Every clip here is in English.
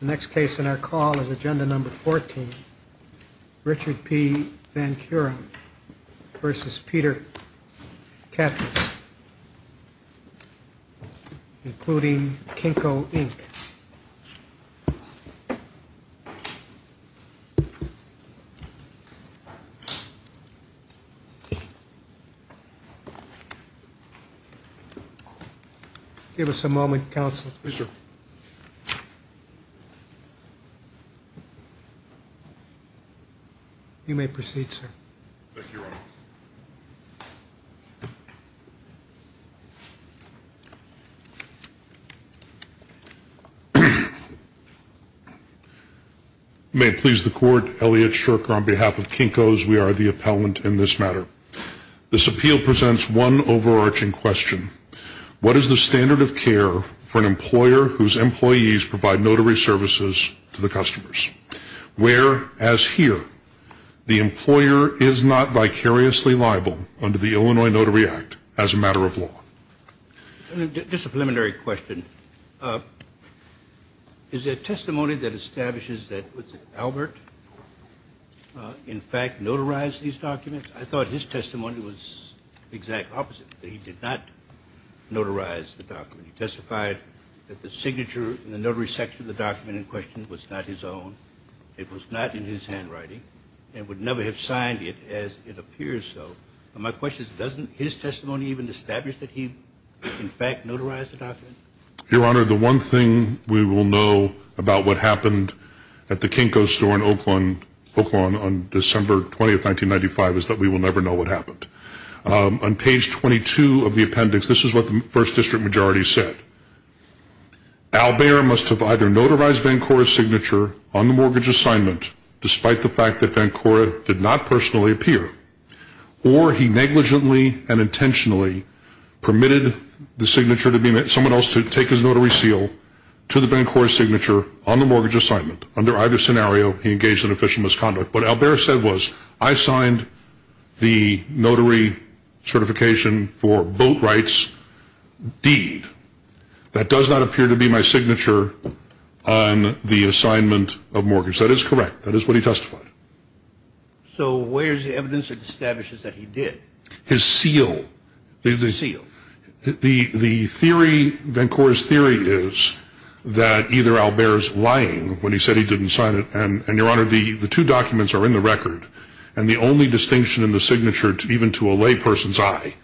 The next case on our call is agenda number 14, Richard P. Vancura v. Peter Katris, including Kinko, Inc. Give us a moment, counsel. Yes, sir. You may proceed, sir. Thank you, Your Honor. You may please the court. Elliot Shurker on behalf of Kinko's. We are the appellant in this matter. This appeal presents one overarching question. What is the standard of care for an employer whose employees provide notary services to the customers? Where, as here, the employer is not vicariously liable under the Illinois Notary Act as a matter of law. Just a preliminary question. Is there testimony that establishes that Albert, in fact, notarized these documents? I thought his testimony was the exact opposite, that he did not notarize the document. He testified that the signature in the notary section of the document in question was not his own. It was not in his handwriting and would never have signed it as it appears so. My question is, doesn't his testimony even establish that he, in fact, notarized the document? Your Honor, the one thing we will know about what happened at the Kinko's store in Oakland on December 20, 1995, is that we will never know what happened. On page 22 of the appendix, this is what the first district majority said. Albert must have either notarized Vancouver's signature on the mortgage assignment, despite the fact that Vancouver did not personally appear, or he negligently and intentionally permitted someone else to take his notary seal to the Vancouver signature on the mortgage assignment. Under either scenario, he engaged in official misconduct. What Albert said was, I signed the notary certification for boat rights deed. That does not appear to be my signature on the assignment of mortgage. That is correct. That is what he testified. So where is the evidence that establishes that he did? His seal. His seal. The theory, Vancouver's theory, is that either Albert is lying when he said he didn't sign it. And, Your Honor, the two documents are in the record. And the only distinction in the signature, even to a lay person's eye,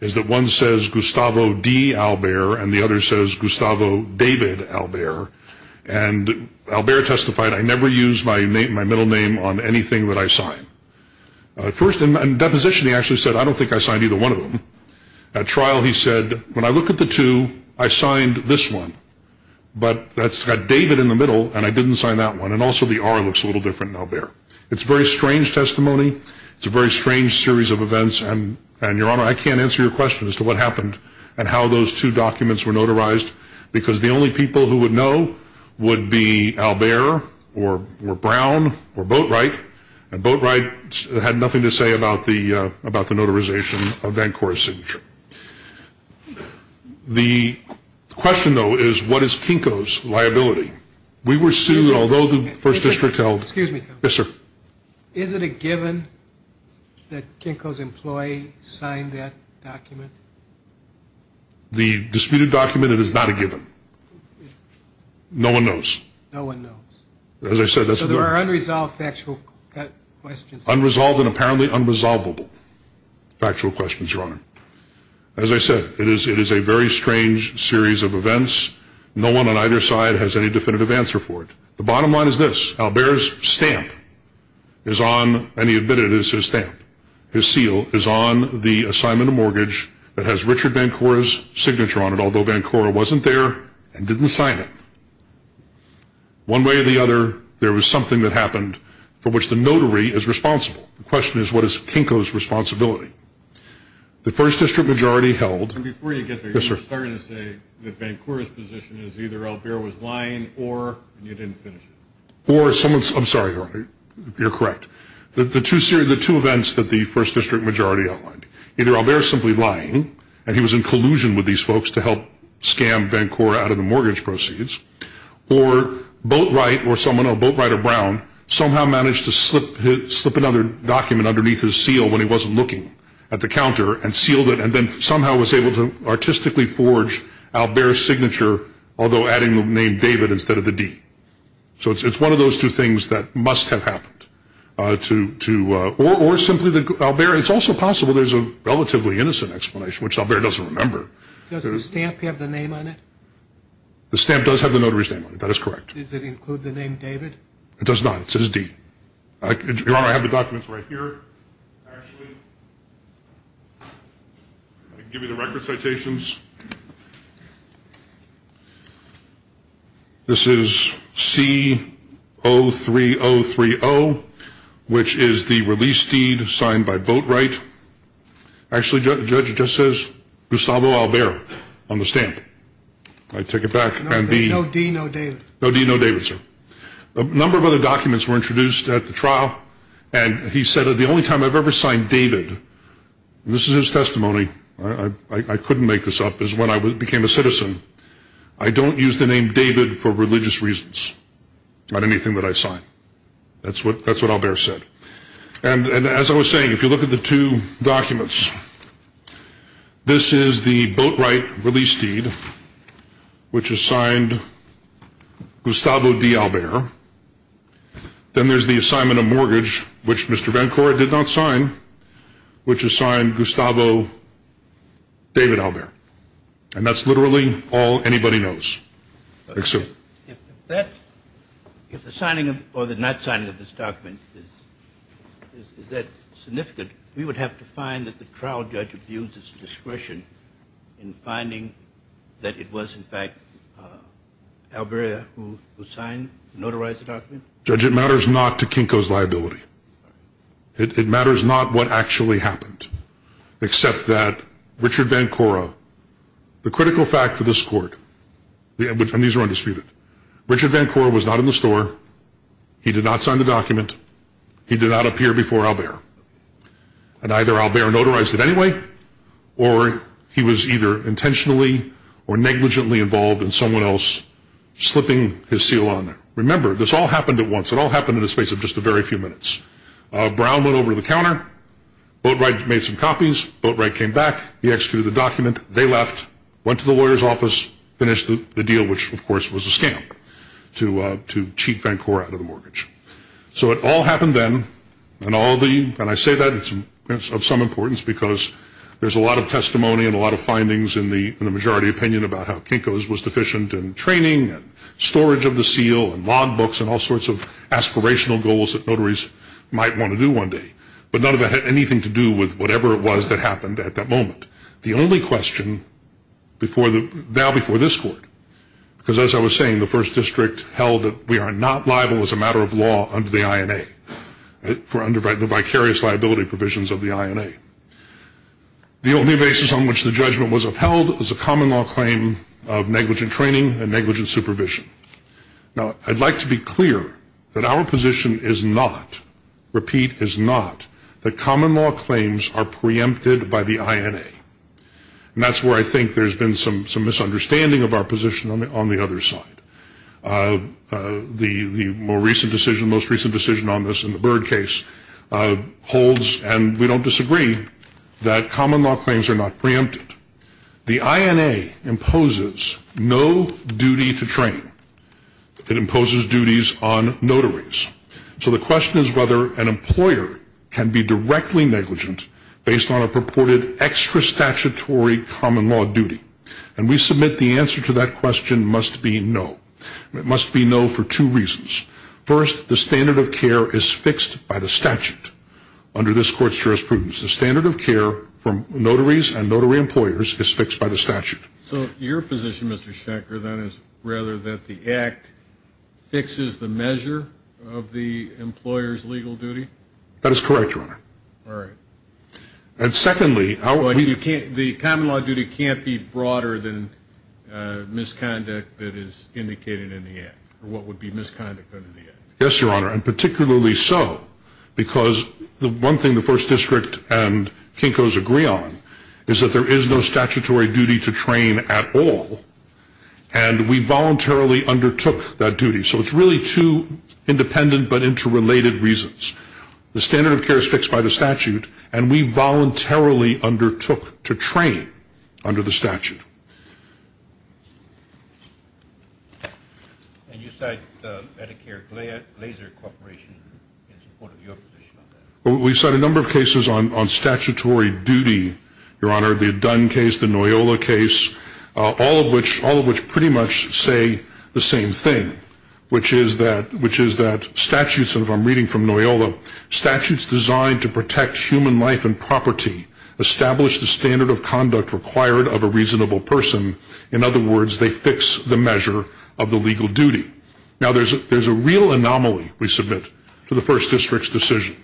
is that one says Gustavo D. Albert and the other says Gustavo David Albert. And Albert testified, I never used my middle name on anything that I signed. First, in deposition, he actually said, I don't think I signed either one of them. At trial, he said, when I look at the two, I signed this one. But that's got David in the middle, and I didn't sign that one. And also the R looks a little different in Albert. It's a very strange testimony. It's a very strange series of events. And, Your Honor, I can't answer your question as to what happened and how those two documents were notarized, because the only people who would know would be Albert or Brown or Boatright. And Boatright had nothing to say about the notarization of Vancouver's signature. The question, though, is what is Kinko's liability? We were sued, although the First District held. Excuse me. Yes, sir. The disputed document, it is not a given. No one knows. No one knows. As I said, that's the reason. So there are unresolved factual questions. Unresolved and apparently unresolvable factual questions, Your Honor. As I said, it is a very strange series of events. No one on either side has any definitive answer for it. The bottom line is this. Albert's stamp is on, and he admitted it is his stamp, his seal, is on the assignment of mortgage that has Richard Vancouver's signature on it, although Vancouver wasn't there and didn't sign it. One way or the other, there was something that happened for which the notary is responsible. The question is, what is Kinko's responsibility? The First District majority held. And before you get there, you're starting to say that Vancouver's position is either Albert was lying or you didn't finish it. Or someone's, I'm sorry, Your Honor, you're correct. The two events that the First District majority outlined, either Albert is simply lying and he was in collusion with these folks to help scam Vancouver out of the mortgage proceeds, or Boatwright or someone, Boatwright or Brown, somehow managed to slip another document underneath his seal when he wasn't looking at the counter and sealed it and then somehow was able to artistically forge Albert's signature, although adding the name David instead of the D. So it's one of those two things that must have happened. Or simply that Albert, it's also possible there's a relatively innocent explanation, which Albert doesn't remember. Does the stamp have the name on it? The stamp does have the notary's name on it. That is correct. Does it include the name David? It does not. It says D. Your Honor, I have the documents right here, actually. I can give you the record citations. This is C-03030, which is the release deed signed by Boatwright. Actually, Judge, it just says Gustavo Albert on the stamp. Can I take it back? No D, no David. No D, no David, sir. A number of other documents were introduced at the trial, and he said that the only time I've ever signed David, this is his testimony, I couldn't make this up, is when I became a citizen. I don't use the name David for religious reasons on anything that I sign. That's what Albert said. And as I was saying, if you look at the two documents, this is the Boatwright release deed, which is signed Gustavo D. Albert. Then there's the assignment of mortgage, which Mr. Bencore did not sign, which is signed Gustavo David Albert. And that's literally all anybody knows. If the signing or the not signing of this document is that significant, we would have to find that the trial judge abused his discretion in finding that it was, in fact, Albert who signed and notarized the document? Judge, it matters not to Kinko's liability. It matters not what actually happened, except that Richard Bencore, the critical fact for this court, and these are undisputed, Richard Bencore was not in the store. He did not sign the document. He did not appear before Albert. And either Albert notarized it anyway, or he was either intentionally or negligently involved in someone else slipping his seal on it. Remember, this all happened at once. It all happened in the space of just a very few minutes. Brown went over to the counter. Boatwright made some copies. Boatwright came back. He executed the document. They left, went to the lawyer's office, finished the deal, which, of course, was a scam to cheat Bencore out of the mortgage. So it all happened then, and I say that of some importance because there's a lot of testimony and a lot of findings in the majority opinion about how Kinko's was deficient in training and storage of the seal and log books and all sorts of aspirational goals that notaries might want to do one day. But none of that had anything to do with whatever it was that happened at that moment. The only question now before this court, because as I was saying, the first district held that we are not liable as a matter of law under the INA, the vicarious liability provisions of the INA. The only basis on which the judgment was upheld was a common law claim of negligent training and negligent supervision. Now, I'd like to be clear that our position is not, repeat, is not, that common law claims are preempted by the INA. And that's where I think there's been some misunderstanding of our position on the other side. The most recent decision on this in the Byrd case holds, and we don't disagree, that common law claims are not preempted. The INA imposes no duty to training. It imposes duties on notaries. So the question is whether an employer can be directly negligent based on a purported extra statutory common law duty. And we submit the answer to that question must be no. It must be no for two reasons. First, the standard of care is fixed by the statute under this court's jurisprudence. The standard of care for notaries and notary employers is fixed by the statute. So your position, Mr. Schechter, then, is rather that the Act fixes the measure of the employer's legal duty? That is correct, Your Honor. All right. And secondly, how are we... Well, you can't, the common law duty can't be broader than misconduct that is indicated in the Act, or what would be misconduct under the Act. Yes, Your Honor, and particularly so because the one thing the First District and Kinko's agree on is that there is no statutory duty to train at all, and we voluntarily undertook that duty. So it's really two independent but interrelated reasons. The standard of care is fixed by the statute, and we voluntarily undertook to train under the statute. And you cite Medicare Glaser Corporation in support of your position on that? We cite a number of cases on statutory duty, Your Honor, the Dunn case, the Noyola case, all of which pretty much say the same thing, which is that statutes, and if I'm reading from Noyola, statutes designed to protect human life and property establish the standard of conduct required of a reasonable person. In other words, they fix the measure of the legal duty. Now, there's a real anomaly, we submit, to the First District's decision,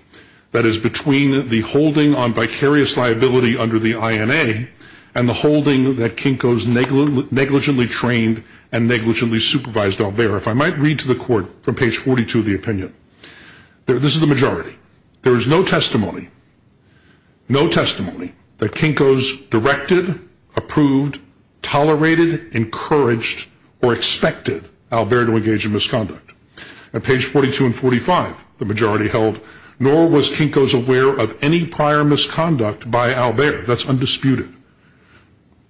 that is between the holding on vicarious liability under the INA and the holding that Kinko's negligently trained and negligently supervised Albert. If I might read to the Court from page 42 of the opinion, this is the majority. There is no testimony, no testimony that Kinko's directed, approved, tolerated, encouraged, or expected Albert to engage in misconduct. At page 42 and 45, the majority held, nor was Kinko's aware of any prior misconduct by Albert. That's undisputed.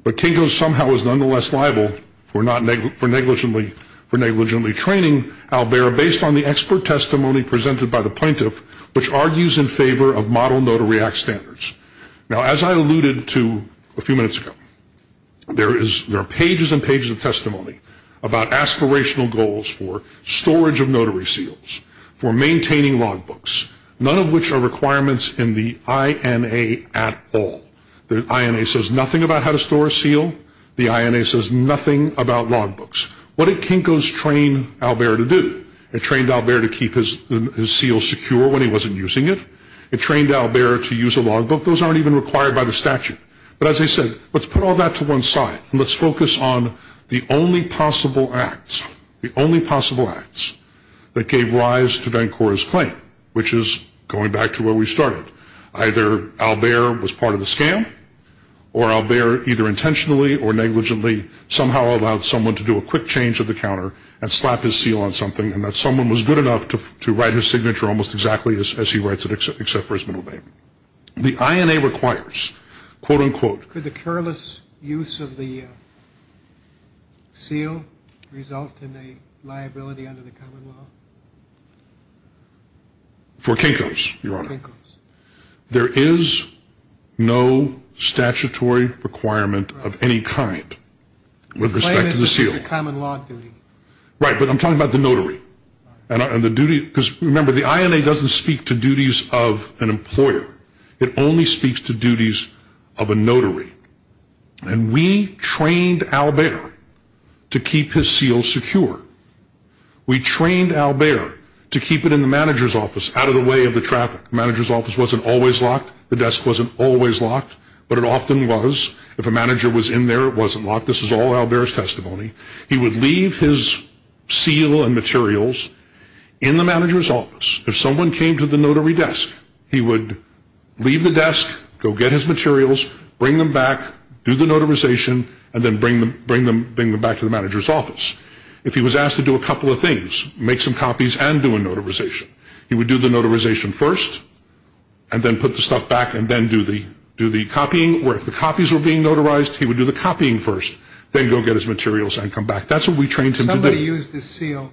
But Kinko's somehow is nonetheless liable for negligently training Albert They are based on the expert testimony presented by the plaintiff, which argues in favor of model notary act standards. Now, as I alluded to a few minutes ago, there are pages and pages of testimony about aspirational goals for storage of notary seals, for maintaining logbooks, none of which are requirements in the INA at all. The INA says nothing about how to store a seal. The INA says nothing about logbooks. What did Kinko's train Albert to do? It trained Albert to keep his seal secure when he wasn't using it. It trained Albert to use a logbook. Those aren't even required by the statute. But as I said, let's put all that to one side, and let's focus on the only possible acts, the only possible acts that gave rise to Vancouver's claim, which is going back to where we started. Either Albert was part of the scam, or Albert either intentionally or negligently somehow allowed someone to do a quick change of the counter and slap his seal on something, and that someone was good enough to write his signature almost exactly as he writes it, except for his middle name. The INA requires, quote, unquote. Could the careless use of the seal result in a liability under the common law? For Kinko's, Your Honor. There is no statutory requirement of any kind with respect to the seal. Right, but I'm talking about the notary. Because remember, the INA doesn't speak to duties of an employer. It only speaks to duties of a notary. And we trained Albert to keep his seal secure. We trained Albert to keep it in the manager's office out of the way of the traffic. The manager's office wasn't always locked. The desk wasn't always locked, but it often was. If a manager was in there, it wasn't locked. This is all Albert's testimony. He would leave his seal and materials in the manager's office. If someone came to the notary desk, he would leave the desk, go get his materials, bring them back, do the notarization, and then bring them back to the manager's office. If he was asked to do a couple of things, make some copies and do a notarization, he would do the notarization first and then put the stuff back and then do the copying. Or if the copies were being notarized, he would do the copying first, then go get his materials and come back. That's what we trained him to do. Somebody used the seal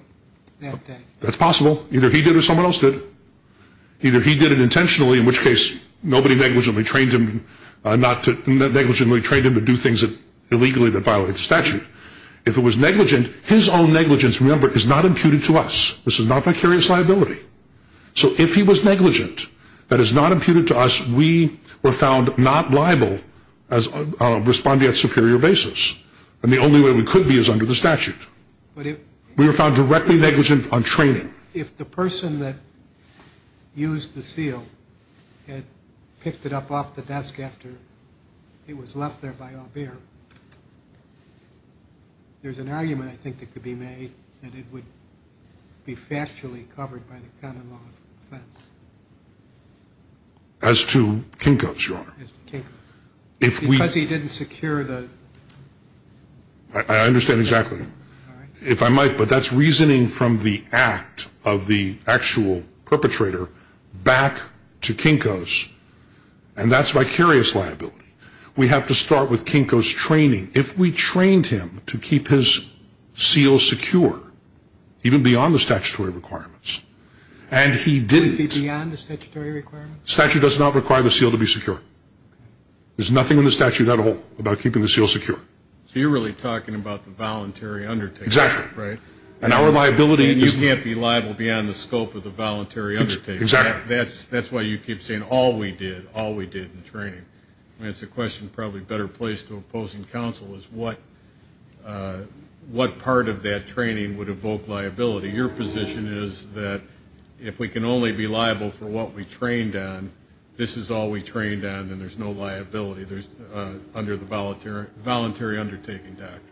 that day. That's possible. Either he did or someone else did. Either he did it intentionally, in which case nobody negligently trained him to do things illegally that violate the statute. If it was negligent, his own negligence, remember, is not imputed to us. This is not vicarious liability. So if he was negligent, that is not imputed to us, we were found not liable as responding at superior basis. And the only way we could be is under the statute. We were found directly negligent on training. If the person that used the seal had picked it up off the desk after it was left there by Aubert, there's an argument I think that could be made that it would be factually covered by the canon law offense. As to Kinko's, Your Honor. As to Kinko's. Because he didn't secure the... I understand exactly. If I might, but that's reasoning from the act of the actual perpetrator back to Kinko's. And that's vicarious liability. We have to start with Kinko's training. If we trained him to keep his seal secure, even beyond the statutory requirements, and he didn't... Beyond the statutory requirements? The statute does not require the seal to be secure. There's nothing in the statute at all about keeping the seal secure. So you're really talking about the voluntary undertaking, right? Exactly. And our liability is... And you can't be liable beyond the scope of the voluntary undertaking. Exactly. That's why you keep saying all we did, all we did in training. I mean, it's a question probably a better place to oppose in counsel is what part of that training would evoke liability. Your position is that if we can only be liable for what we trained on, this is all we trained on, then there's no liability under the voluntary undertaking doctrine.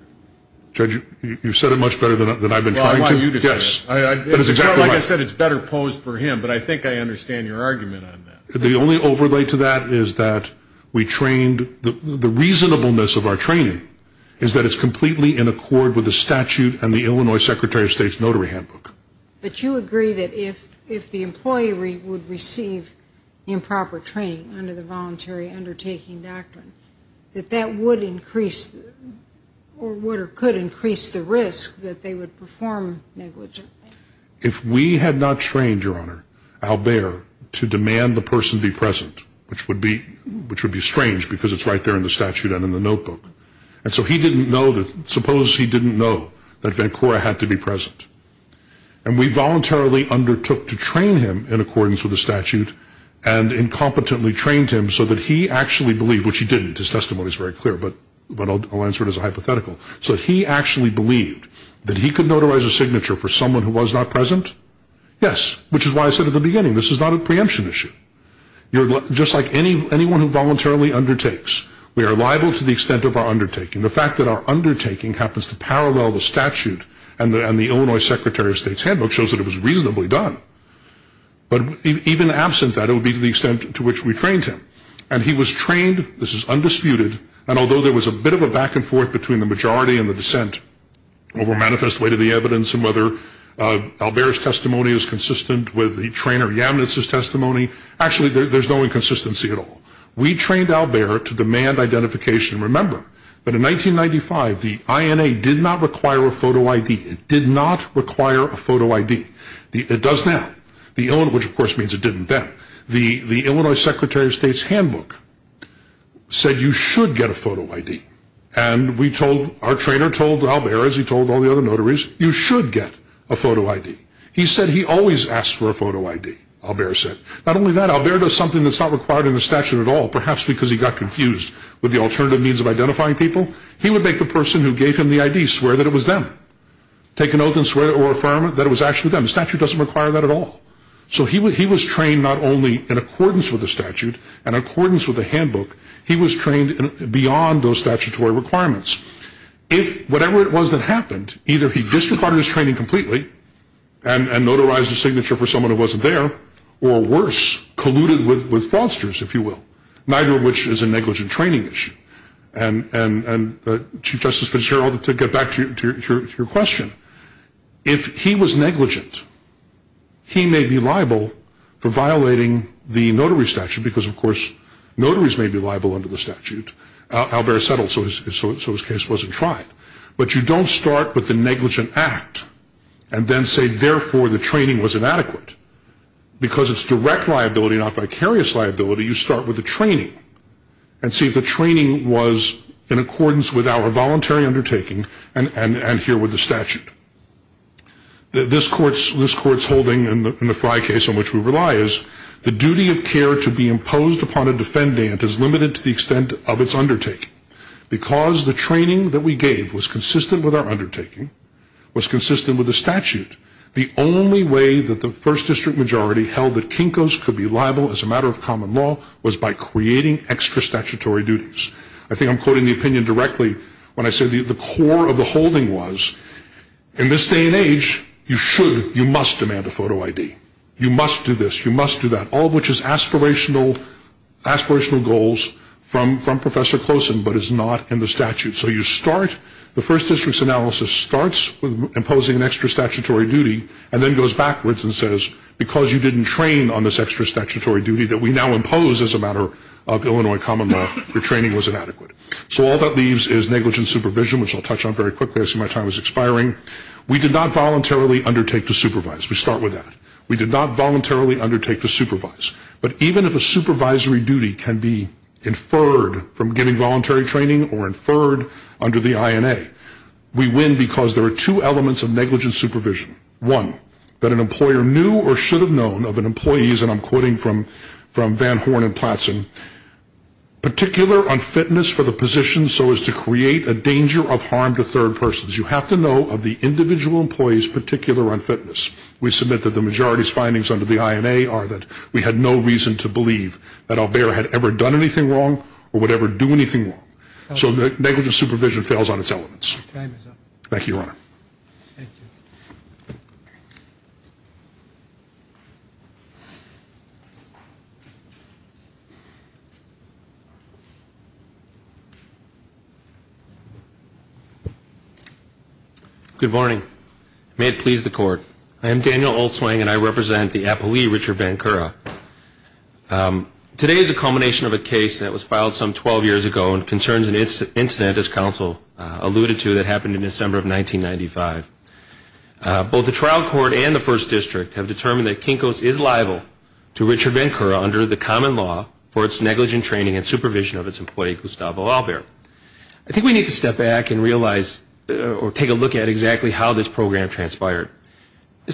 Judge, you've said it much better than I've been trying to. Well, I want you to say it. Like I said, it's better posed for him, but I think I understand your argument on that. The only overlay to that is that we trained... The reasonableness of our training is that it's completely in accord with the statute and the Illinois Secretary of State's notary handbook. But you agree that if the employee would receive improper training under the voluntary undertaking doctrine, that that would increase or would or could increase the risk that they would perform negligence. If we had not trained, Your Honor, Albert to demand the person be present, which would be strange because it's right there in the statute and in the notebook, and so he didn't know that... Suppose he didn't know that Vancouver had to be present. And we voluntarily undertook to train him in accordance with the statute and incompetently trained him so that he actually believed, which he didn't. His testimony is very clear, but I'll answer it as a hypothetical. So he actually believed that he could notarize a signature for someone who was not present? Yes, which is why I said at the beginning, this is not a preemption issue. Just like anyone who voluntarily undertakes, we are liable to the extent of our undertaking. The fact that our undertaking happens to parallel the statute and the Illinois Secretary of State's handbook shows that it was reasonably done. But even absent that, it would be to the extent to which we trained him. And he was trained, this is undisputed, and although there was a bit of a back and forth between the majority and the dissent over manifest way to the evidence and whether Albert's testimony is consistent with the trainer Yamnitz's testimony. Actually, there's no inconsistency at all. We trained Albert to demand identification. Remember that in 1995, the INA did not require a photo ID. It did not require a photo ID. It does now, which of course means it didn't then. The Illinois Secretary of State's handbook said you should get a photo ID. And we told, our trainer told Albert, as he told all the other notaries, you should get a photo ID. He said he always asked for a photo ID, Albert said. Not only that, Albert does something that's not required in the statute at all, perhaps because he got confused with the alternative means of identifying people. He would make the person who gave him the ID swear that it was them, take an oath and swear or affirm that it was actually them. The statute doesn't require that at all. So he was trained not only in accordance with the statute and accordance with the handbook, he was trained beyond those statutory requirements. If whatever it was that happened, either he disregarded his training completely and notarized a signature for someone who wasn't there, or worse, colluded with fraudsters, if you will, neither of which is a negligent training issue. And Chief Justice Fitzgerald, to get back to your question, if he was negligent, he may be liable for violating the notary statute because, of course, notaries may be liable under the statute. Albert settled so his case wasn't tried. But you don't start with the negligent act and then say, therefore, the training was inadequate. Because it's direct liability, not vicarious liability, you start with the training and see if the training was in accordance with our voluntary undertaking and here with the statute. This Court's holding in the Frye case on which we rely is the duty of care to be imposed upon a defendant is limited to the extent of its undertaking. Because the training that we gave was consistent with our undertaking, was consistent with the statute, the only way that the first district majority held that Kinkos could be liable as a matter of common law was by creating extra statutory duties. I think I'm quoting the opinion directly when I say the core of the holding was, in this day and age, you should, you must demand a photo ID. You must do this. You must do that. All of which is aspirational goals from Professor Closen, but is not in the statute. So you start, the first district's analysis starts with imposing an extra statutory duty and then goes backwards and says, because you didn't train on this extra statutory duty that we now impose as a matter of Illinois common law, your training was inadequate. So all that leaves is negligent supervision, which I'll touch on very quickly. I see my time is expiring. We did not voluntarily undertake to supervise. We start with that. We did not voluntarily undertake to supervise. But even if a supervisory duty can be inferred from giving voluntary training or inferred under the INA, we win because there are two elements of negligent supervision. One, that an employer knew or should have known of an employee's, and I'm quoting from Van Horn and Platson, particular unfitness for the position so as to create a danger of harm to third persons. You have to know of the individual employee's particular unfitness. We submit that the majority's findings under the INA are that we had no reason to believe that Albert had ever done anything wrong or would ever do anything wrong. So negligent supervision fails on its elements. Thank you, Your Honor. Thank you. Good morning. May it please the Court. I am Daniel Olswang, and I represent the appellee, Richard Vancouver. Today is a culmination of a case that was filed some 12 years ago and concerns an incident, as counsel alluded to, that happened in December of 1995. Both the trial court and the First District have determined that Kinko's is liable to Richard Vancouver under the common law for its negligent training and supervision of its employee, Gustavo Albert. I think we need to step back and realize or take a look at exactly how this program transpired.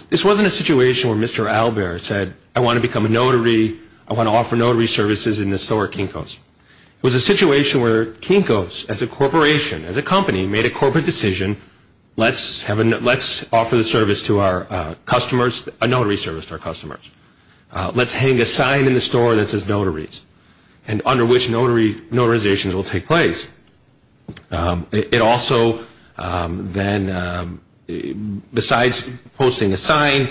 This wasn't a situation where Mr. Albert said, I want to become a notary, I want to offer notary services, and so are Kinko's. It was a situation where Kinko's, as a corporation, as a company, made a corporate decision, let's offer the service to our customers, a notary service to our customers. Let's hang a sign in the store that says notaries, and under which notarizations will take place. It also then, besides posting a sign,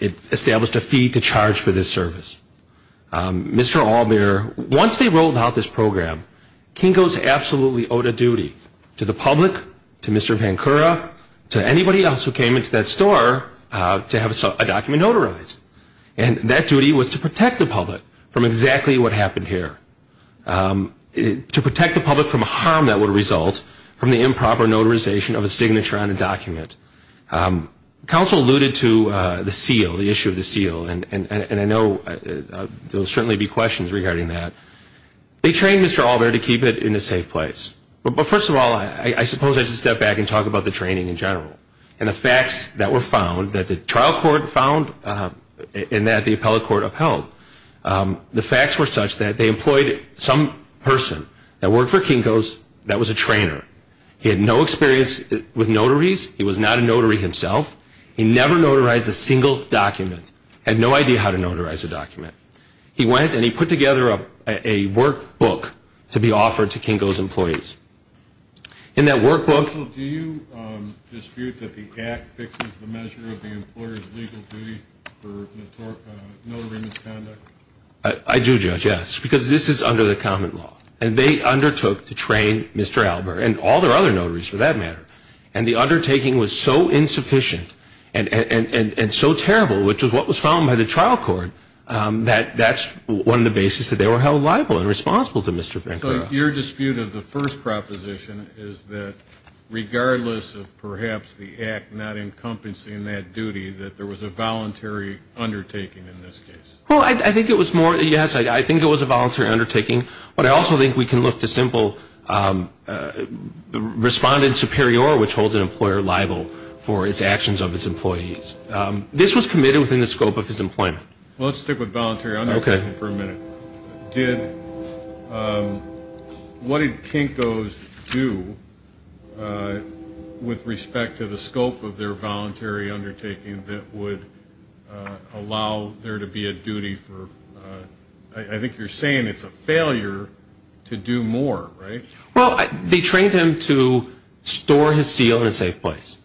it established a fee to charge for this service. Mr. Albert, once they rolled out this program, Kinko's absolutely owed a duty to the public, to Mr. Vancouver, to anybody else who came into that store to have a document notarized. And that duty was to protect the public from exactly what happened here, to protect the public from harm that would result from the improper notarization of a signature on a document. Counsel alluded to the seal, the issue of the seal, and I know there will certainly be questions regarding that. They trained Mr. Albert to keep it in a safe place. But first of all, I suppose I should step back and talk about the training in general and the facts that were found, that the trial court found and that the appellate court upheld. The facts were such that they employed some person that worked for Kinko's that was a trainer. He had no experience with notaries. He was not a notary himself. He never notarized a single document, had no idea how to notarize a document. He went and he put together a workbook to be offered to Kinko's employees. In that workbook- Counsel, do you dispute that the Act fixes the measure of the employer's legal duty for notary misconduct? I do, Judge, yes, because this is under the common law. And they undertook to train Mr. Albert and all their other notaries for that matter. And the undertaking was so insufficient and so terrible, which is what was found by the trial court, that that's one of the basis that they were held liable and responsible to Mr. Francois. So your dispute of the first proposition is that regardless of perhaps the Act not encompassing that duty, that there was a voluntary undertaking in this case? Well, I think it was more-yes, I think it was a voluntary undertaking. But I also think we can look to simple respondent superior, which holds an employer liable for its actions of its employees. This was committed within the scope of his employment. Well, let's stick with voluntary undertaking for a minute. What did Kinko's do with respect to the scope of their voluntary undertaking that would allow there to be a duty for- I think you're saying it's a failure to do more, right? Well, they trained him to store his seal in a safe place.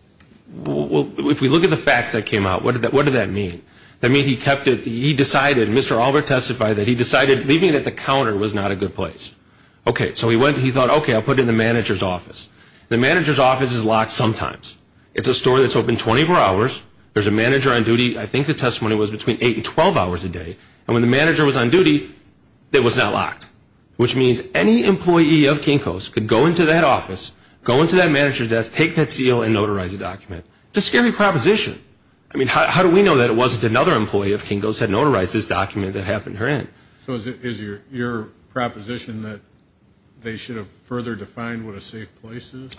If we look at the facts that came out, what did that mean? That mean he kept it-he decided, Mr. Albert testified that he decided leaving it at the counter was not a good place. Okay, so he thought, okay, I'll put it in the manager's office. The manager's office is locked sometimes. It's a store that's open 24 hours. There's a manager on duty, I think the testimony was between 8 and 12 hours a day. And when the manager was on duty, it was not locked, which means any employee of Kinko's could go into that office, go into that manager's desk, take that seal, and notarize the document. It's a scary proposition. I mean, how do we know that it wasn't another employee of Kinko's had notarized this document that happened to her in? So is your proposition that they should have further defined what a safe place is?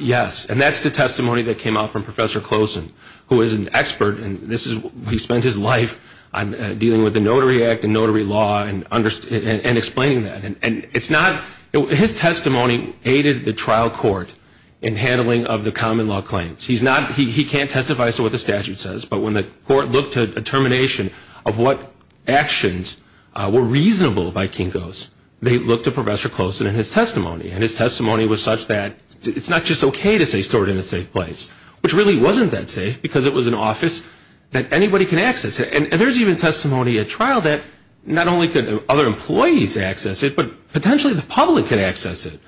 Yes, and that's the testimony that came out from Professor Closen, who is an expert, and this is-he spent his life dealing with the Notary Act and notary law and explaining that. And it's not-his testimony aided the trial court in handling of the common law claims. He's not-he can't testify to what the statute says, but when the court looked at a termination of what actions were reasonable by Kinko's, they looked at Professor Closen and his testimony. And his testimony was such that it's not just okay to say store it in a safe place, which really wasn't that safe because it was an office that anybody can access. And there's even testimony at trial that not only could other employees access it, but potentially the public could access it.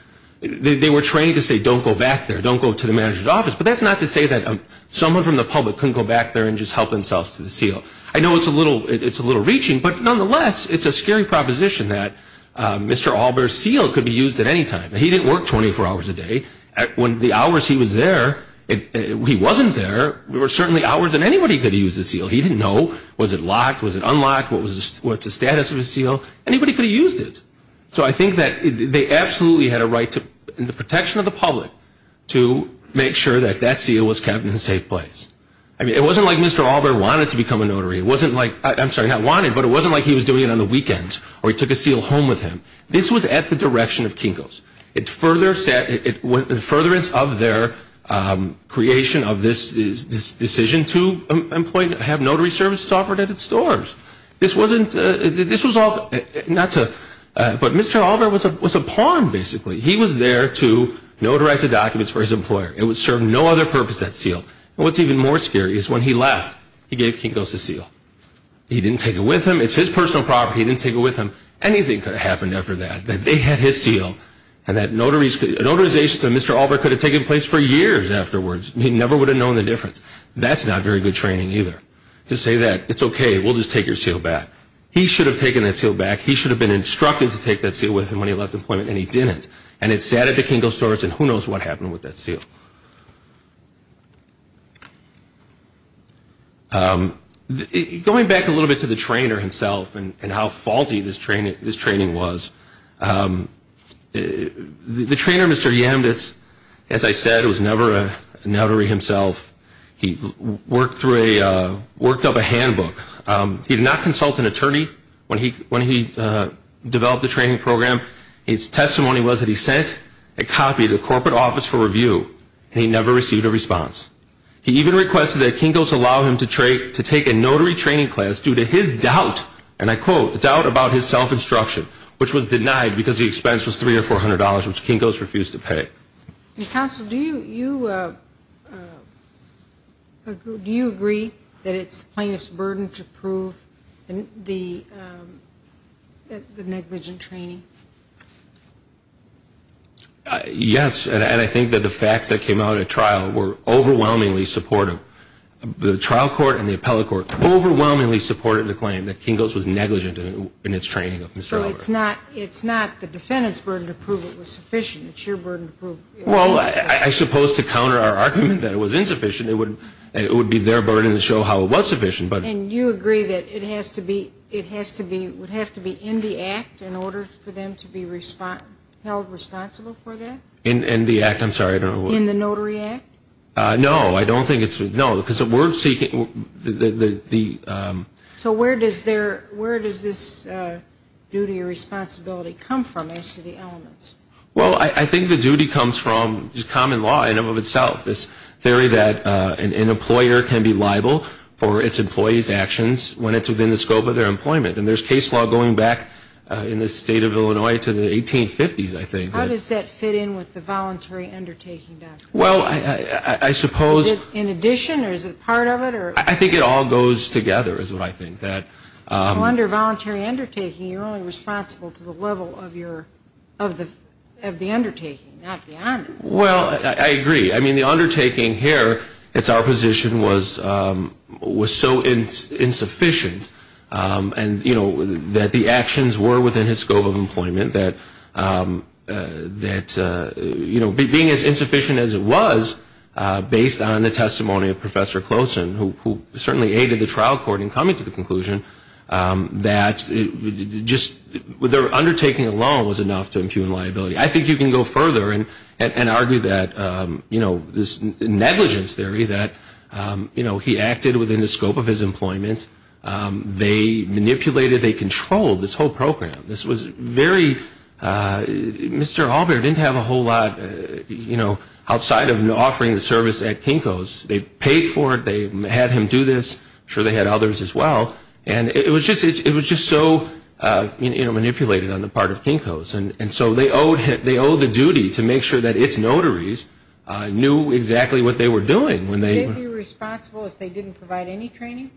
They were trained to say don't go back there, don't go to the manager's office. But that's not to say that someone from the public couldn't go back there and just help themselves to the seal. I know it's a little-it's a little reaching, but nonetheless, it's a scary proposition that Mr. Allbear's seal could be used at any time. He didn't work 24 hours a day. When the hours he was there, he wasn't there. There were certainly hours that anybody could use the seal. He didn't know was it locked, was it unlocked, what's the status of the seal. Anybody could have used it. So I think that they absolutely had a right to the protection of the public to make sure that that seal was kept in a safe place. I mean, it wasn't like Mr. Allbear wanted to become a notary. It wasn't like-I'm sorry, not wanted, but it wasn't like he was doing it on the weekends or he took a seal home with him. This was at the direction of Kinko's. It further set-in furtherance of their creation of this decision to employ-to have notary services offered at its stores. This wasn't-this was all-not to-but Mr. Allbear was a pawn, basically. He was there to notarize the documents for his employer. It would serve no other purpose, that seal. And what's even more scary is when he left, he gave Kinko's the seal. He didn't take it with him. It's his personal property. He didn't take it with him. Anything could have happened after that, that they had his seal and that notarization to Mr. Allbear could have taken place for years afterwards. He never would have known the difference. That's not very good training either, to say that it's okay, we'll just take your seal back. He should have taken that seal back. He should have been instructed to take that seal with him when he left employment, and he didn't. And it sat at the Kinko's stores, and who knows what happened with that seal. Going back a little bit to the trainer himself and how faulty this training was, the trainer, Mr. Yamditz, as I said, was never a notary himself. He worked through a-worked up a handbook. He did not consult an attorney when he developed the training program. His testimony was that he sent a copy to the corporate office for review. He never received a response. He even requested that Kinko's allow him to take a notary training class due to his doubt, and I quote, doubt about his self-instruction, which was denied because the expense was $300 or $400, which Kinko's refused to pay. Counsel, do you agree that it's the plaintiff's burden to prove the negligent training? Yes, and I think that the facts that came out at trial were overwhelmingly supportive. The trial court and the appellate court overwhelmingly supported the claim that Kinko's was negligent in its training of Mr. Albert. So it's not the defendant's burden to prove it was sufficient. It's your burden to prove it was insufficient. Well, I suppose to counter our argument that it was insufficient, it would be their burden to show how it was sufficient, but- And you agree that it has to be-it has to be-would have to be in the act in order for that to happen? In order for them to be held responsible for that? In the act, I'm sorry, I don't know what- In the notary act? No, I don't think it's-no, because we're seeking the- So where does this duty or responsibility come from as to the elements? Well, I think the duty comes from common law in and of itself, this theory that an employer can be liable for its employees' actions when it's within the scope of their employment, and there's case law going back in the state of Illinois to the 1850s, I think. How does that fit in with the voluntary undertaking doctrine? Well, I suppose- Is it in addition, or is it part of it, or- I think it all goes together is what I think, that- Well, under voluntary undertaking, you're only responsible to the level of your-of the undertaking, not the onus. Well, I agree. I mean, the undertaking here, it's our position, was so insufficient, and, you know, that the actions were within the scope of employment, that, you know, being as insufficient as it was based on the testimony of Professor Closen, who certainly aided the trial court in coming to the conclusion that just- their undertaking alone was enough to impugn liability. I think you can go further and argue that, you know, this negligence theory that, you know, he acted within the scope of his employment. They manipulated, they controlled this whole program. This was very-Mr. Allbear didn't have a whole lot, you know, outside of offering the service at Kinko's. They paid for it. They had him do this. I'm sure they had others as well. And it was just so, you know, manipulated on the part of Kinko's. And so they owe the duty to make sure that its notaries knew exactly what they were doing when they- Would they be responsible if they didn't provide any training?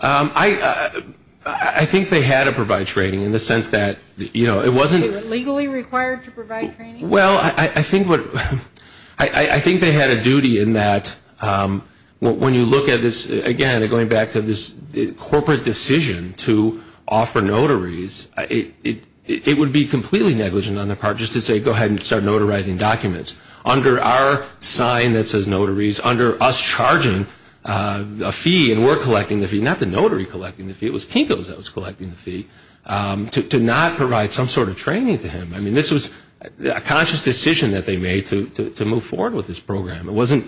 I think they had to provide training in the sense that, you know, it wasn't- Were they legally required to provide training? Well, I think what-I think they had a duty in that when you look at this, again, going back to this corporate decision to offer notaries, it would be completely negligent on their part just to say go ahead and start notarizing documents. Under our sign that says notaries, under us charging a fee, and we're collecting the fee, not the notary collecting the fee, it was Kinko's that was collecting the fee, to not provide some sort of training to him. I mean, this was a conscious decision that they made to move forward with this program. It wasn't-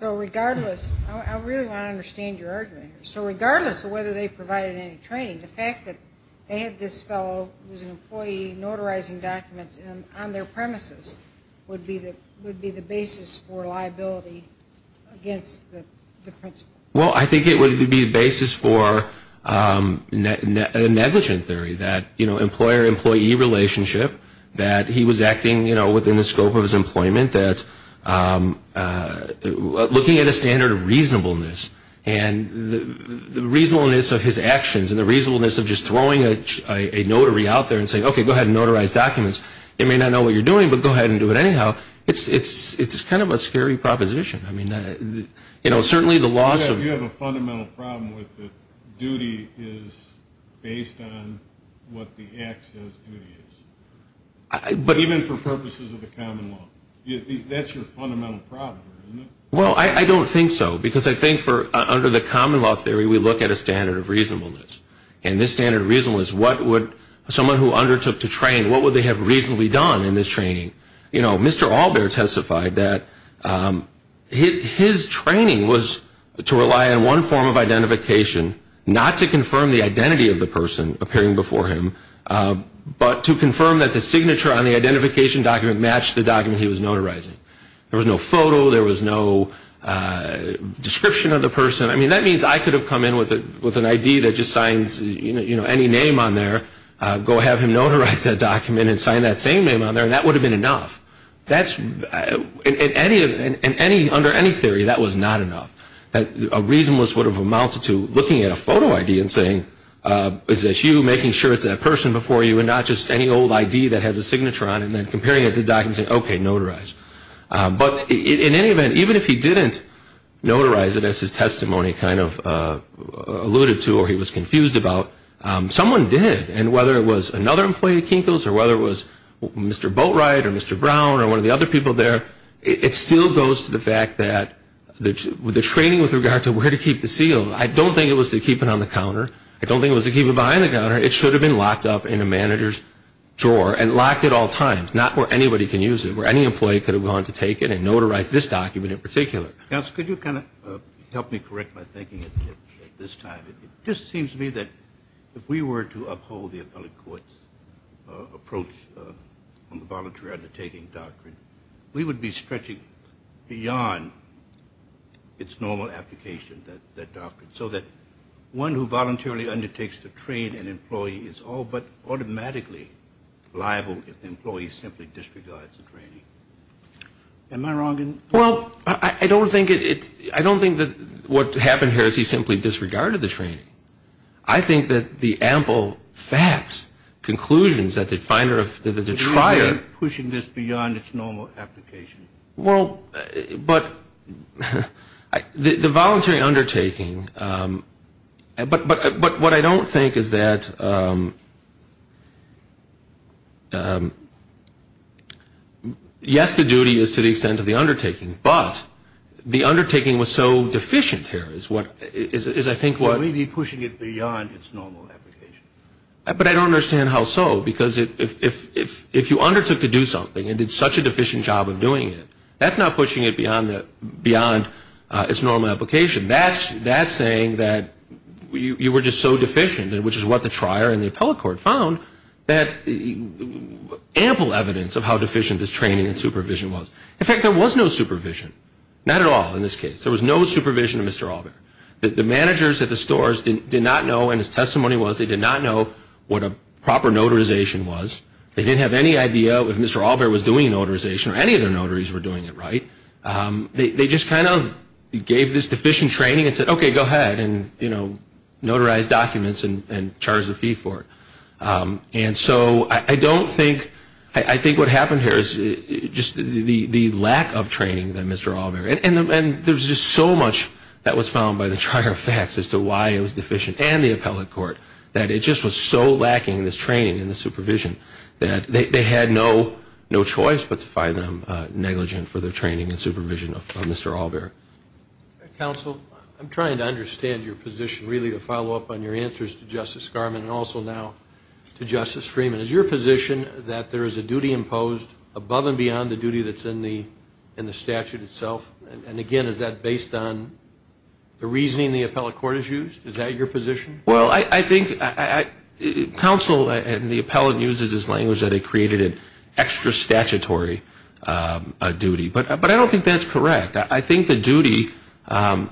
So regardless-I really want to understand your argument here. So regardless of whether they provided any training, the fact that they had this fellow who was an employee notarizing documents on their premises would be the basis for liability against the principal? Well, I think it would be the basis for a negligent theory that, you know, employer-employee relationship, that he was acting, you know, within the scope of his employment, that looking at a standard of reasonableness, and the reasonableness of his actions and the reasonableness of just throwing a notary out there and saying, okay, go ahead and notarize documents. They may not know what you're doing, but go ahead and do it anyhow. It's kind of a scary proposition. I mean, you know, certainly the loss of- You have a fundamental problem with that duty is based on what the act says duty is. Even for purposes of the common law. That's your fundamental problem, isn't it? Well, I don't think so, because I think under the common law theory, we look at a standard of reasonableness. And this standard of reasonableness, what would someone who undertook to train, what would they have reasonably done in this training? You know, Mr. Allbear testified that his training was to rely on one form of identification, not to confirm the identity of the person appearing before him, but to confirm that the signature on the identification document matched the document he was notarizing. There was no photo. There was no description of the person. I mean, that means I could have come in with an ID that just signs, you know, any name on there, go have him notarize that document and sign that same name on there, and that would have been enough. Under any theory, that was not enough. A reasonableness would have amounted to looking at a photo ID and saying, is this you making sure it's that person before you, and not just any old ID that has a signature on it, and then comparing it to documents and saying, okay, notarize. But in any event, even if he didn't notarize it as his testimony kind of alluded to or he was confused about, someone did. And whether it was another employee at Kinko's or whether it was Mr. Boatwright or Mr. Brown or one of the other people there, it still goes to the fact that the training with regard to where to keep the seal, I don't think it was to keep it on the counter. I don't think it was to keep it behind the counter. It should have been locked up in a manager's drawer and locked at all times, not where anybody can use it, where any employee could have gone to take it and notarized this document in particular. Counsel, could you kind of help me correct my thinking at this time? It just seems to me that if we were to uphold the appellate court's approach on the voluntary undertaking doctrine, we would be stretching beyond its normal application, that doctrine, so that one who voluntarily undertakes to train an employee is all but automatically liable if the employee simply disregards the training. Am I wrong? Well, I don't think that what happened here is he simply disregarded the training. I think that the ample facts, conclusions that the definer of the trier. You're pushing this beyond its normal application. Well, but the voluntary undertaking, but what I don't think is that yes, the duty is to the extent of the undertaking, but the undertaking was so deficient here is I think what. You're pushing it beyond its normal application. But I don't understand how so, because if you undertook to do something and did such a deficient job of doing it, that's not pushing it beyond its normal application. That's saying that you were just so deficient, which is what the trier and the appellate court found that ample evidence of how deficient this training and supervision was. In fact, there was no supervision, not at all in this case. There was no supervision of Mr. Allbear. The managers at the stores did not know, and his testimony was, they did not know what a proper notarization was. They didn't have any idea if Mr. Allbear was doing a notarization or any of the notaries were doing it right. They just kind of gave this deficient training and said, okay, go ahead and, you know, notarize documents and charge a fee for it. And so I don't think, I think what happened here is just the lack of training in Mr. Allbear. And there's just so much that was found by the trier of facts as to why it was deficient and the appellate court that it just was so lacking in this training and the supervision that they had no choice but to find them negligent for their training and supervision of Mr. Allbear. Counsel, I'm trying to understand your position, really, to follow up on your answers to Justice Garmon and also now to Justice Freeman. Is your position that there is a duty imposed above and beyond the duty that's in the statute itself? And, again, is that based on the reasoning the appellate court has used? Is that your position? Well, I think counsel and the appellate uses this language that it created an extra statutory duty. But I don't think that's correct. I think the duty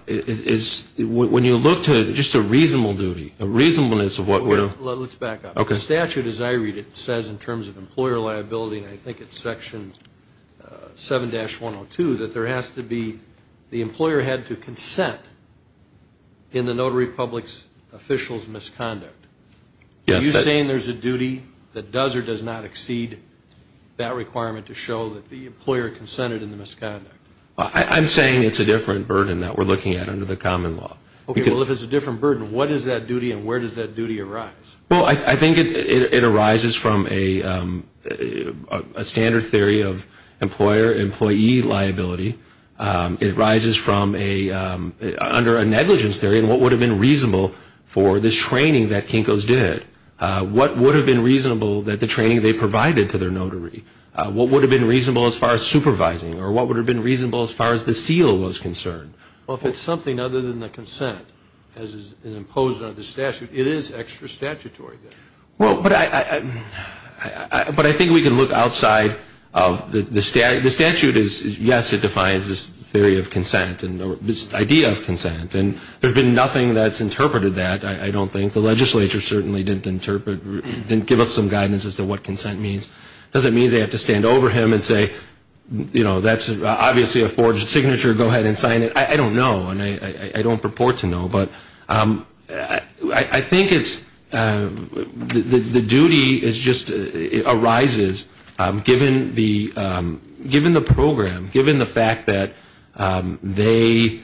is, when you look to just a reasonable duty, a reasonableness of what we're... Well, let's back up. Okay. The statute, as I read it, says in terms of employer liability, and I think it's Section 7-102, that there has to be the employer had to consent in the notary public's official's misconduct. Yes. Are you saying there's a duty that does or does not exceed that requirement to show that the employer consented in the misconduct? I'm saying it's a different burden that we're looking at under the common law. Okay. Well, if it's a different burden, what is that duty and where does that duty arise? Well, I think it arises from a standard theory of employer-employee liability. It arises from a, under a negligence theory. And what would have been reasonable for this training that Kinko's did? What would have been reasonable that the training they provided to their notary? What would have been reasonable as far as supervising? Or what would have been reasonable as far as the seal was concerned? Well, if it's something other than the consent as is imposed under the statute, it is extra statutory. Well, but I think we can look outside of the statute. The statute is, yes, it defines this theory of consent or this idea of consent. And there's been nothing that's interpreted that, I don't think. The legislature certainly didn't interpret, didn't give us some guidance as to what consent means. It doesn't mean they have to stand over him and say, you know, that's obviously a forged signature. Go ahead and sign it. I don't know, and I don't purport to know. But I think it's, the duty is just, arises given the program, given the fact that they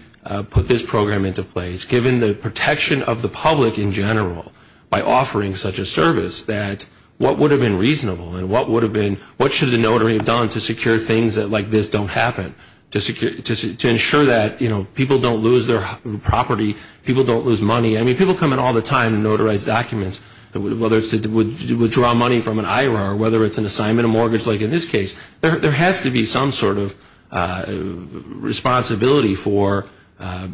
put this program into place, given the protection of the public in general by offering such a service, that what would have been reasonable? And what would have been, what should the notary have done to secure things like this don't happen? To ensure that, you know, people don't lose their property, people don't lose money. I mean, people come in all the time and notarize documents, whether it's to withdraw money from an IRO or whether it's an assignment of mortgage, like in this case. There has to be some sort of responsibility for,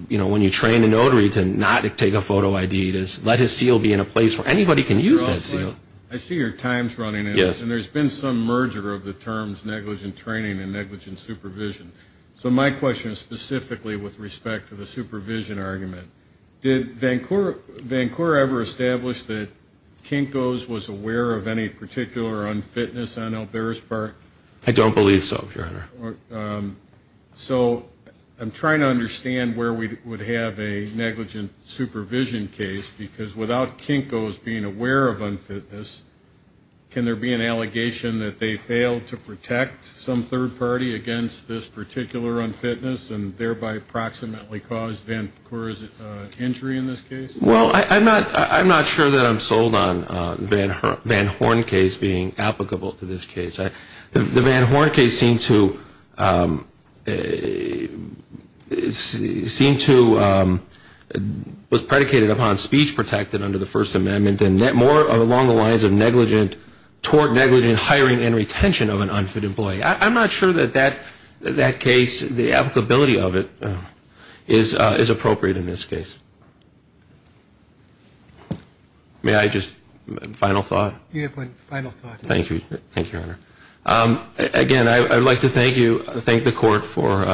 you know, when you train a notary to not take a photo ID. Let his seal be in a place where anybody can use that seal. I see your time's running out. Yes. And there's been some merger of the terms negligent training and negligent supervision. So my question is specifically with respect to the supervision argument. Did Vancouver ever establish that Kinko's was aware of any particular unfitness on Elberis Park? I don't believe so, Your Honor. So I'm trying to understand where we would have a negligent supervision case, because without Kinko's being aware of unfitness, can there be an allegation that they failed to protect some third party against this particular unfitness and thereby approximately caused Vancouver's injury in this case? Well, I'm not sure that I'm sold on the Van Horn case being applicable to this case. The Van Horn case seemed to was predicated upon speech protected under the First Amendment and more along the lines of negligent, toward negligent hiring and retention of an unfit employee. I'm not sure that that case, the applicability of it is appropriate in this case. May I just, final thought? You have one final thought. Thank you. Thank you, Your Honor. Again, I would like to thank you, thank the court for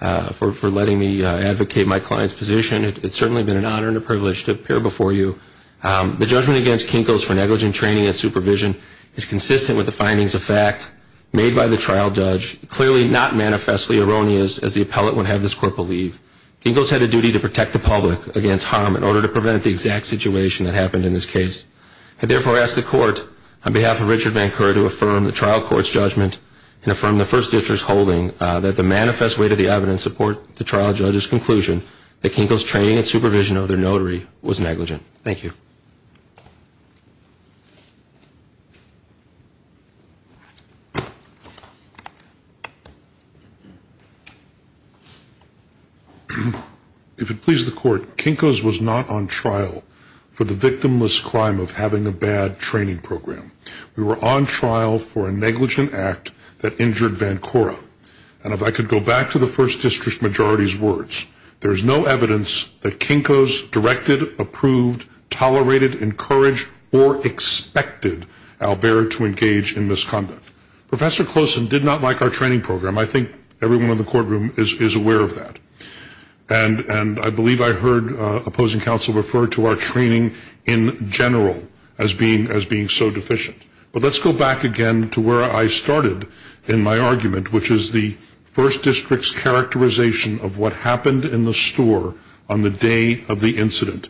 letting me advocate my client's position. It's certainly been an honor and a privilege to appear before you. The judgment against Kinko's for negligent training and supervision is consistent with the findings of fact made by the trial judge, clearly not manifestly erroneous as the appellate would have this court believe. Kinko's had a duty to protect the public against harm in order to prevent the exact situation that happened in this case. I therefore ask the court, on behalf of Richard Vancouver, to affirm the trial court's judgment and affirm the First District's holding that the manifest way to the evidence support the trial judge's conclusion that Kinko's training and supervision of their notary was negligent. Thank you. If it pleases the court, Kinko's was not on trial for the victimless crime of having a bad training program. We were on trial for a negligent act that injured Vancouver. And if I could go back to the First District Majority's words, there is no evidence that Kinko's directed, approved, tolerated, encouraged, or expected Albert to engage in misconduct. Professor Closen did not like our training program. I think everyone in the courtroom is aware of that. And I believe I heard opposing counsel refer to our training in general as being so deficient. But let's go back again to where I started in my argument, which is the First District's characterization of what happened in the store on the day of the incident.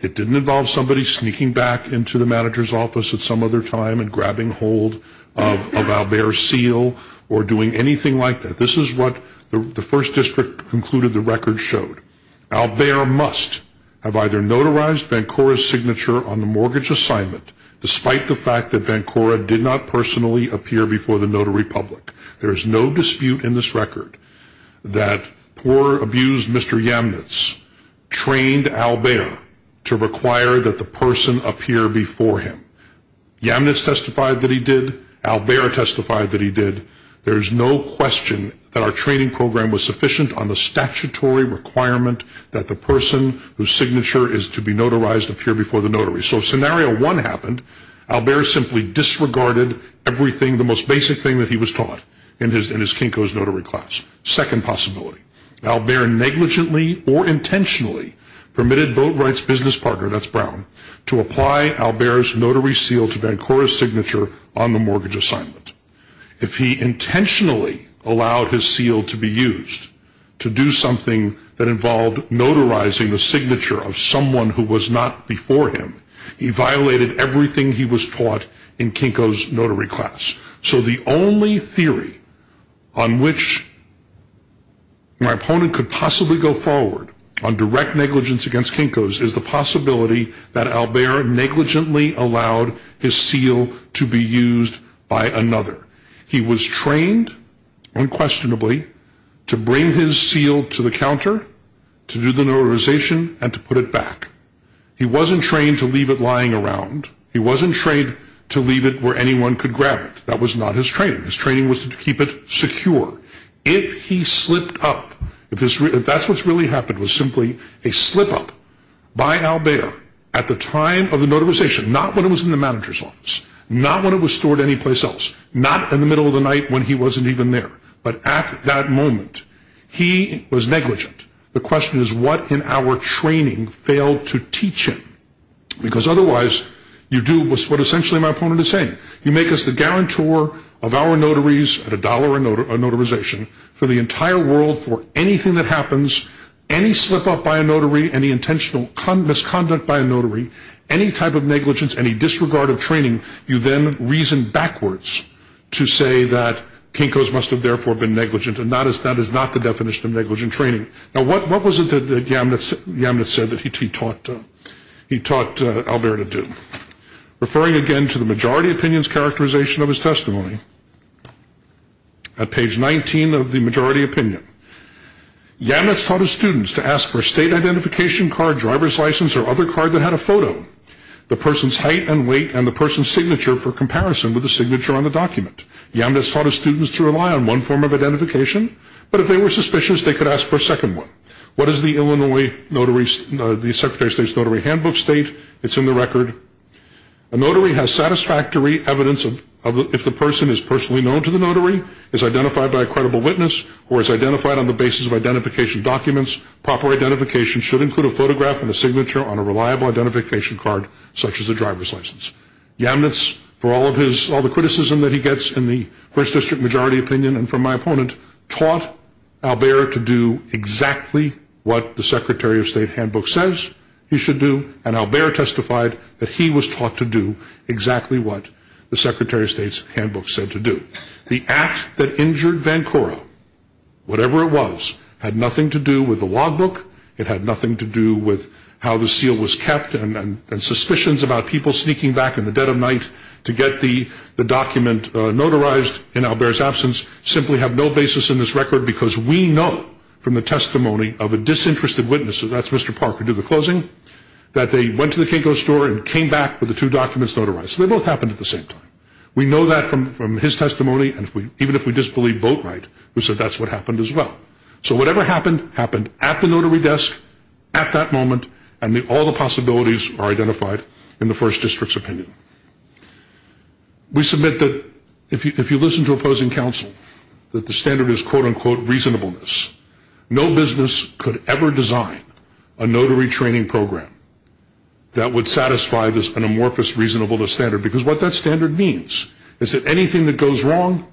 It didn't involve somebody sneaking back into the manager's office at some other time and grabbing hold of Albert's seal or doing anything like that. This is what the First District concluded the record showed. Albert must have either notarized Vancouver's signature on the mortgage assignment, despite the fact that Vancouver did not personally appear before the notary public. There is no dispute in this record that poor, abused Mr. Yamnitz trained Albert to require that the person appear before him. Yamnitz testified that he did. Albert testified that he did. There is no question that our training program was sufficient on the statutory requirement that the person whose signature is to be notarized appear before the notary. So if Scenario 1 happened, Albert simply disregarded everything, the most basic thing that he was taught in his Kinko's notary class. Second possibility. Albert negligently or intentionally permitted Boatwright's business partner, that's Brown, to apply Albert's notary seal to Vancouver's signature on the mortgage assignment. If he intentionally allowed his seal to be used to do something that involved notarizing the signature of someone who was not before him, he violated everything he was taught in Kinko's notary class. So the only theory on which my opponent could possibly go forward on direct negligence against Kinko's is the possibility that Albert negligently allowed his seal to be used by another. He was trained, unquestionably, to bring his seal to the counter, to do the notarization, and to put it back. He wasn't trained to leave it lying around. He wasn't trained to leave it where anyone could grab it. That was not his training. His training was to keep it secure. If he slipped up, if that's what really happened, was simply a slip-up by Albert at the time of the notarization, not when it was in the manager's office, not when it was stored anyplace else, not in the middle of the night when he wasn't even there, but at that moment, he was negligent. The question is, what in our training failed to teach him? Because otherwise, you do what essentially my opponent is saying. You make us the guarantor of our notaries at a dollar a notarization for the entire world for anything that happens, any slip-up by a notary, any intentional misconduct by a notary, any type of negligence, any disregard of training, you then reason backwards to say that Kinko's must have therefore been negligent, and that is not the definition of negligent training. Now, what was it that Yamnitz said that he taught Albert to do? Referring again to the majority opinion's characterization of his testimony, at page 19 of the majority opinion, Yamnitz taught his students to ask for a state identification card, driver's license, or other card that had a photo, the person's height and weight, and the person's signature for comparison with the signature on the document. Yamnitz taught his students to rely on one form of identification, but if they were suspicious, they could ask for a second one. What does the Secretary of State's notary handbook state? It's in the record. A notary has satisfactory evidence if the person is personally known to the notary, is identified by a credible witness, or is identified on the basis of identification documents. Proper identification should include a photograph and a signature on a reliable identification card, such as a driver's license. Yamnitz, for all the criticism that he gets in the first district majority opinion and from my opponent, taught Albert to do exactly what the Secretary of State handbook says he should do, and Albert testified that he was taught to do exactly what the Secretary of State's handbook said to do. The act that injured Vancouver, whatever it was, had nothing to do with the logbook, it had nothing to do with how the seal was kept, and suspicions about people sneaking back in the dead of night to get the document notarized in Albert's absence simply have no basis in this record because we know from the testimony of a disinterested witness, that's Mr. Parker due to closing, that they went to the Kinko store and came back with the two documents notarized. They both happened at the same time. We know that from his testimony, and even if we disbelieve Boatright, who said that's what happened as well. So whatever happened, happened at the notary desk, at that moment, and all the possibilities are identified in the first district's opinion. We submit that if you listen to opposing counsel, that the standard is quote-unquote reasonableness. No business could ever design a notary training program that would satisfy this amorphous reasonableness standard because what that standard means is that anything that goes wrong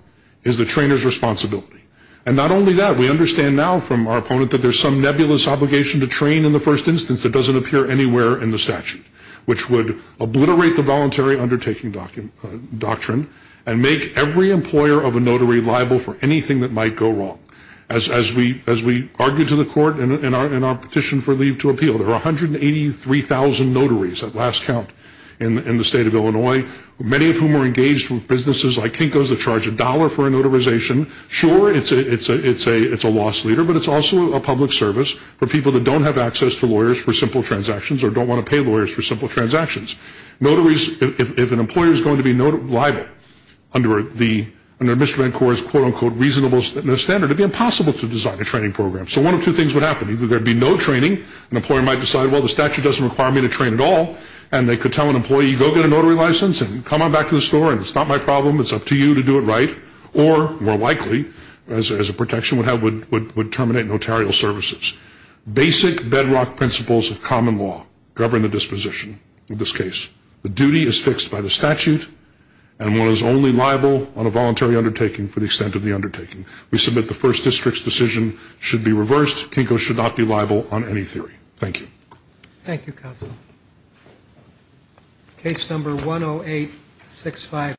is the trainer's responsibility. And not only that, we understand now from our opponent that there's some nebulous obligation to train in the first instance that doesn't appear anywhere in the statute, which would obliterate the voluntary undertaking doctrine and make every employer of a notary liable for anything that might go wrong. As we argue to the court in our petition for leave to appeal, there are 183,000 notaries at last count in the state of Illinois, many of whom are engaged with businesses like Kinko's that charge a dollar for a notarization. Sure, it's a loss leader, but it's also a public service for people that don't have access to lawyers for simple transactions or don't want to pay lawyers for simple transactions. Notaries, if an employer is going to be liable under Mr. VanCore's quote-unquote reasonableness standard, it would be impossible to design a training program. So one of two things would happen. Either there'd be no training, an employer might decide, well, the statute doesn't require me to train at all, and they could tell an employee, go get a notary license and come on back to the store and it's not my problem, it's up to you to do it right, or more likely, as a protection would have, would terminate notarial services. Basic bedrock principles of common law govern the disposition of this case. The duty is fixed by the statute, and one is only liable on a voluntary undertaking for the extent of the undertaking. We submit the first district's decision should be reversed. Kinko should not be liable on any theory. Thank you. Thank you, counsel.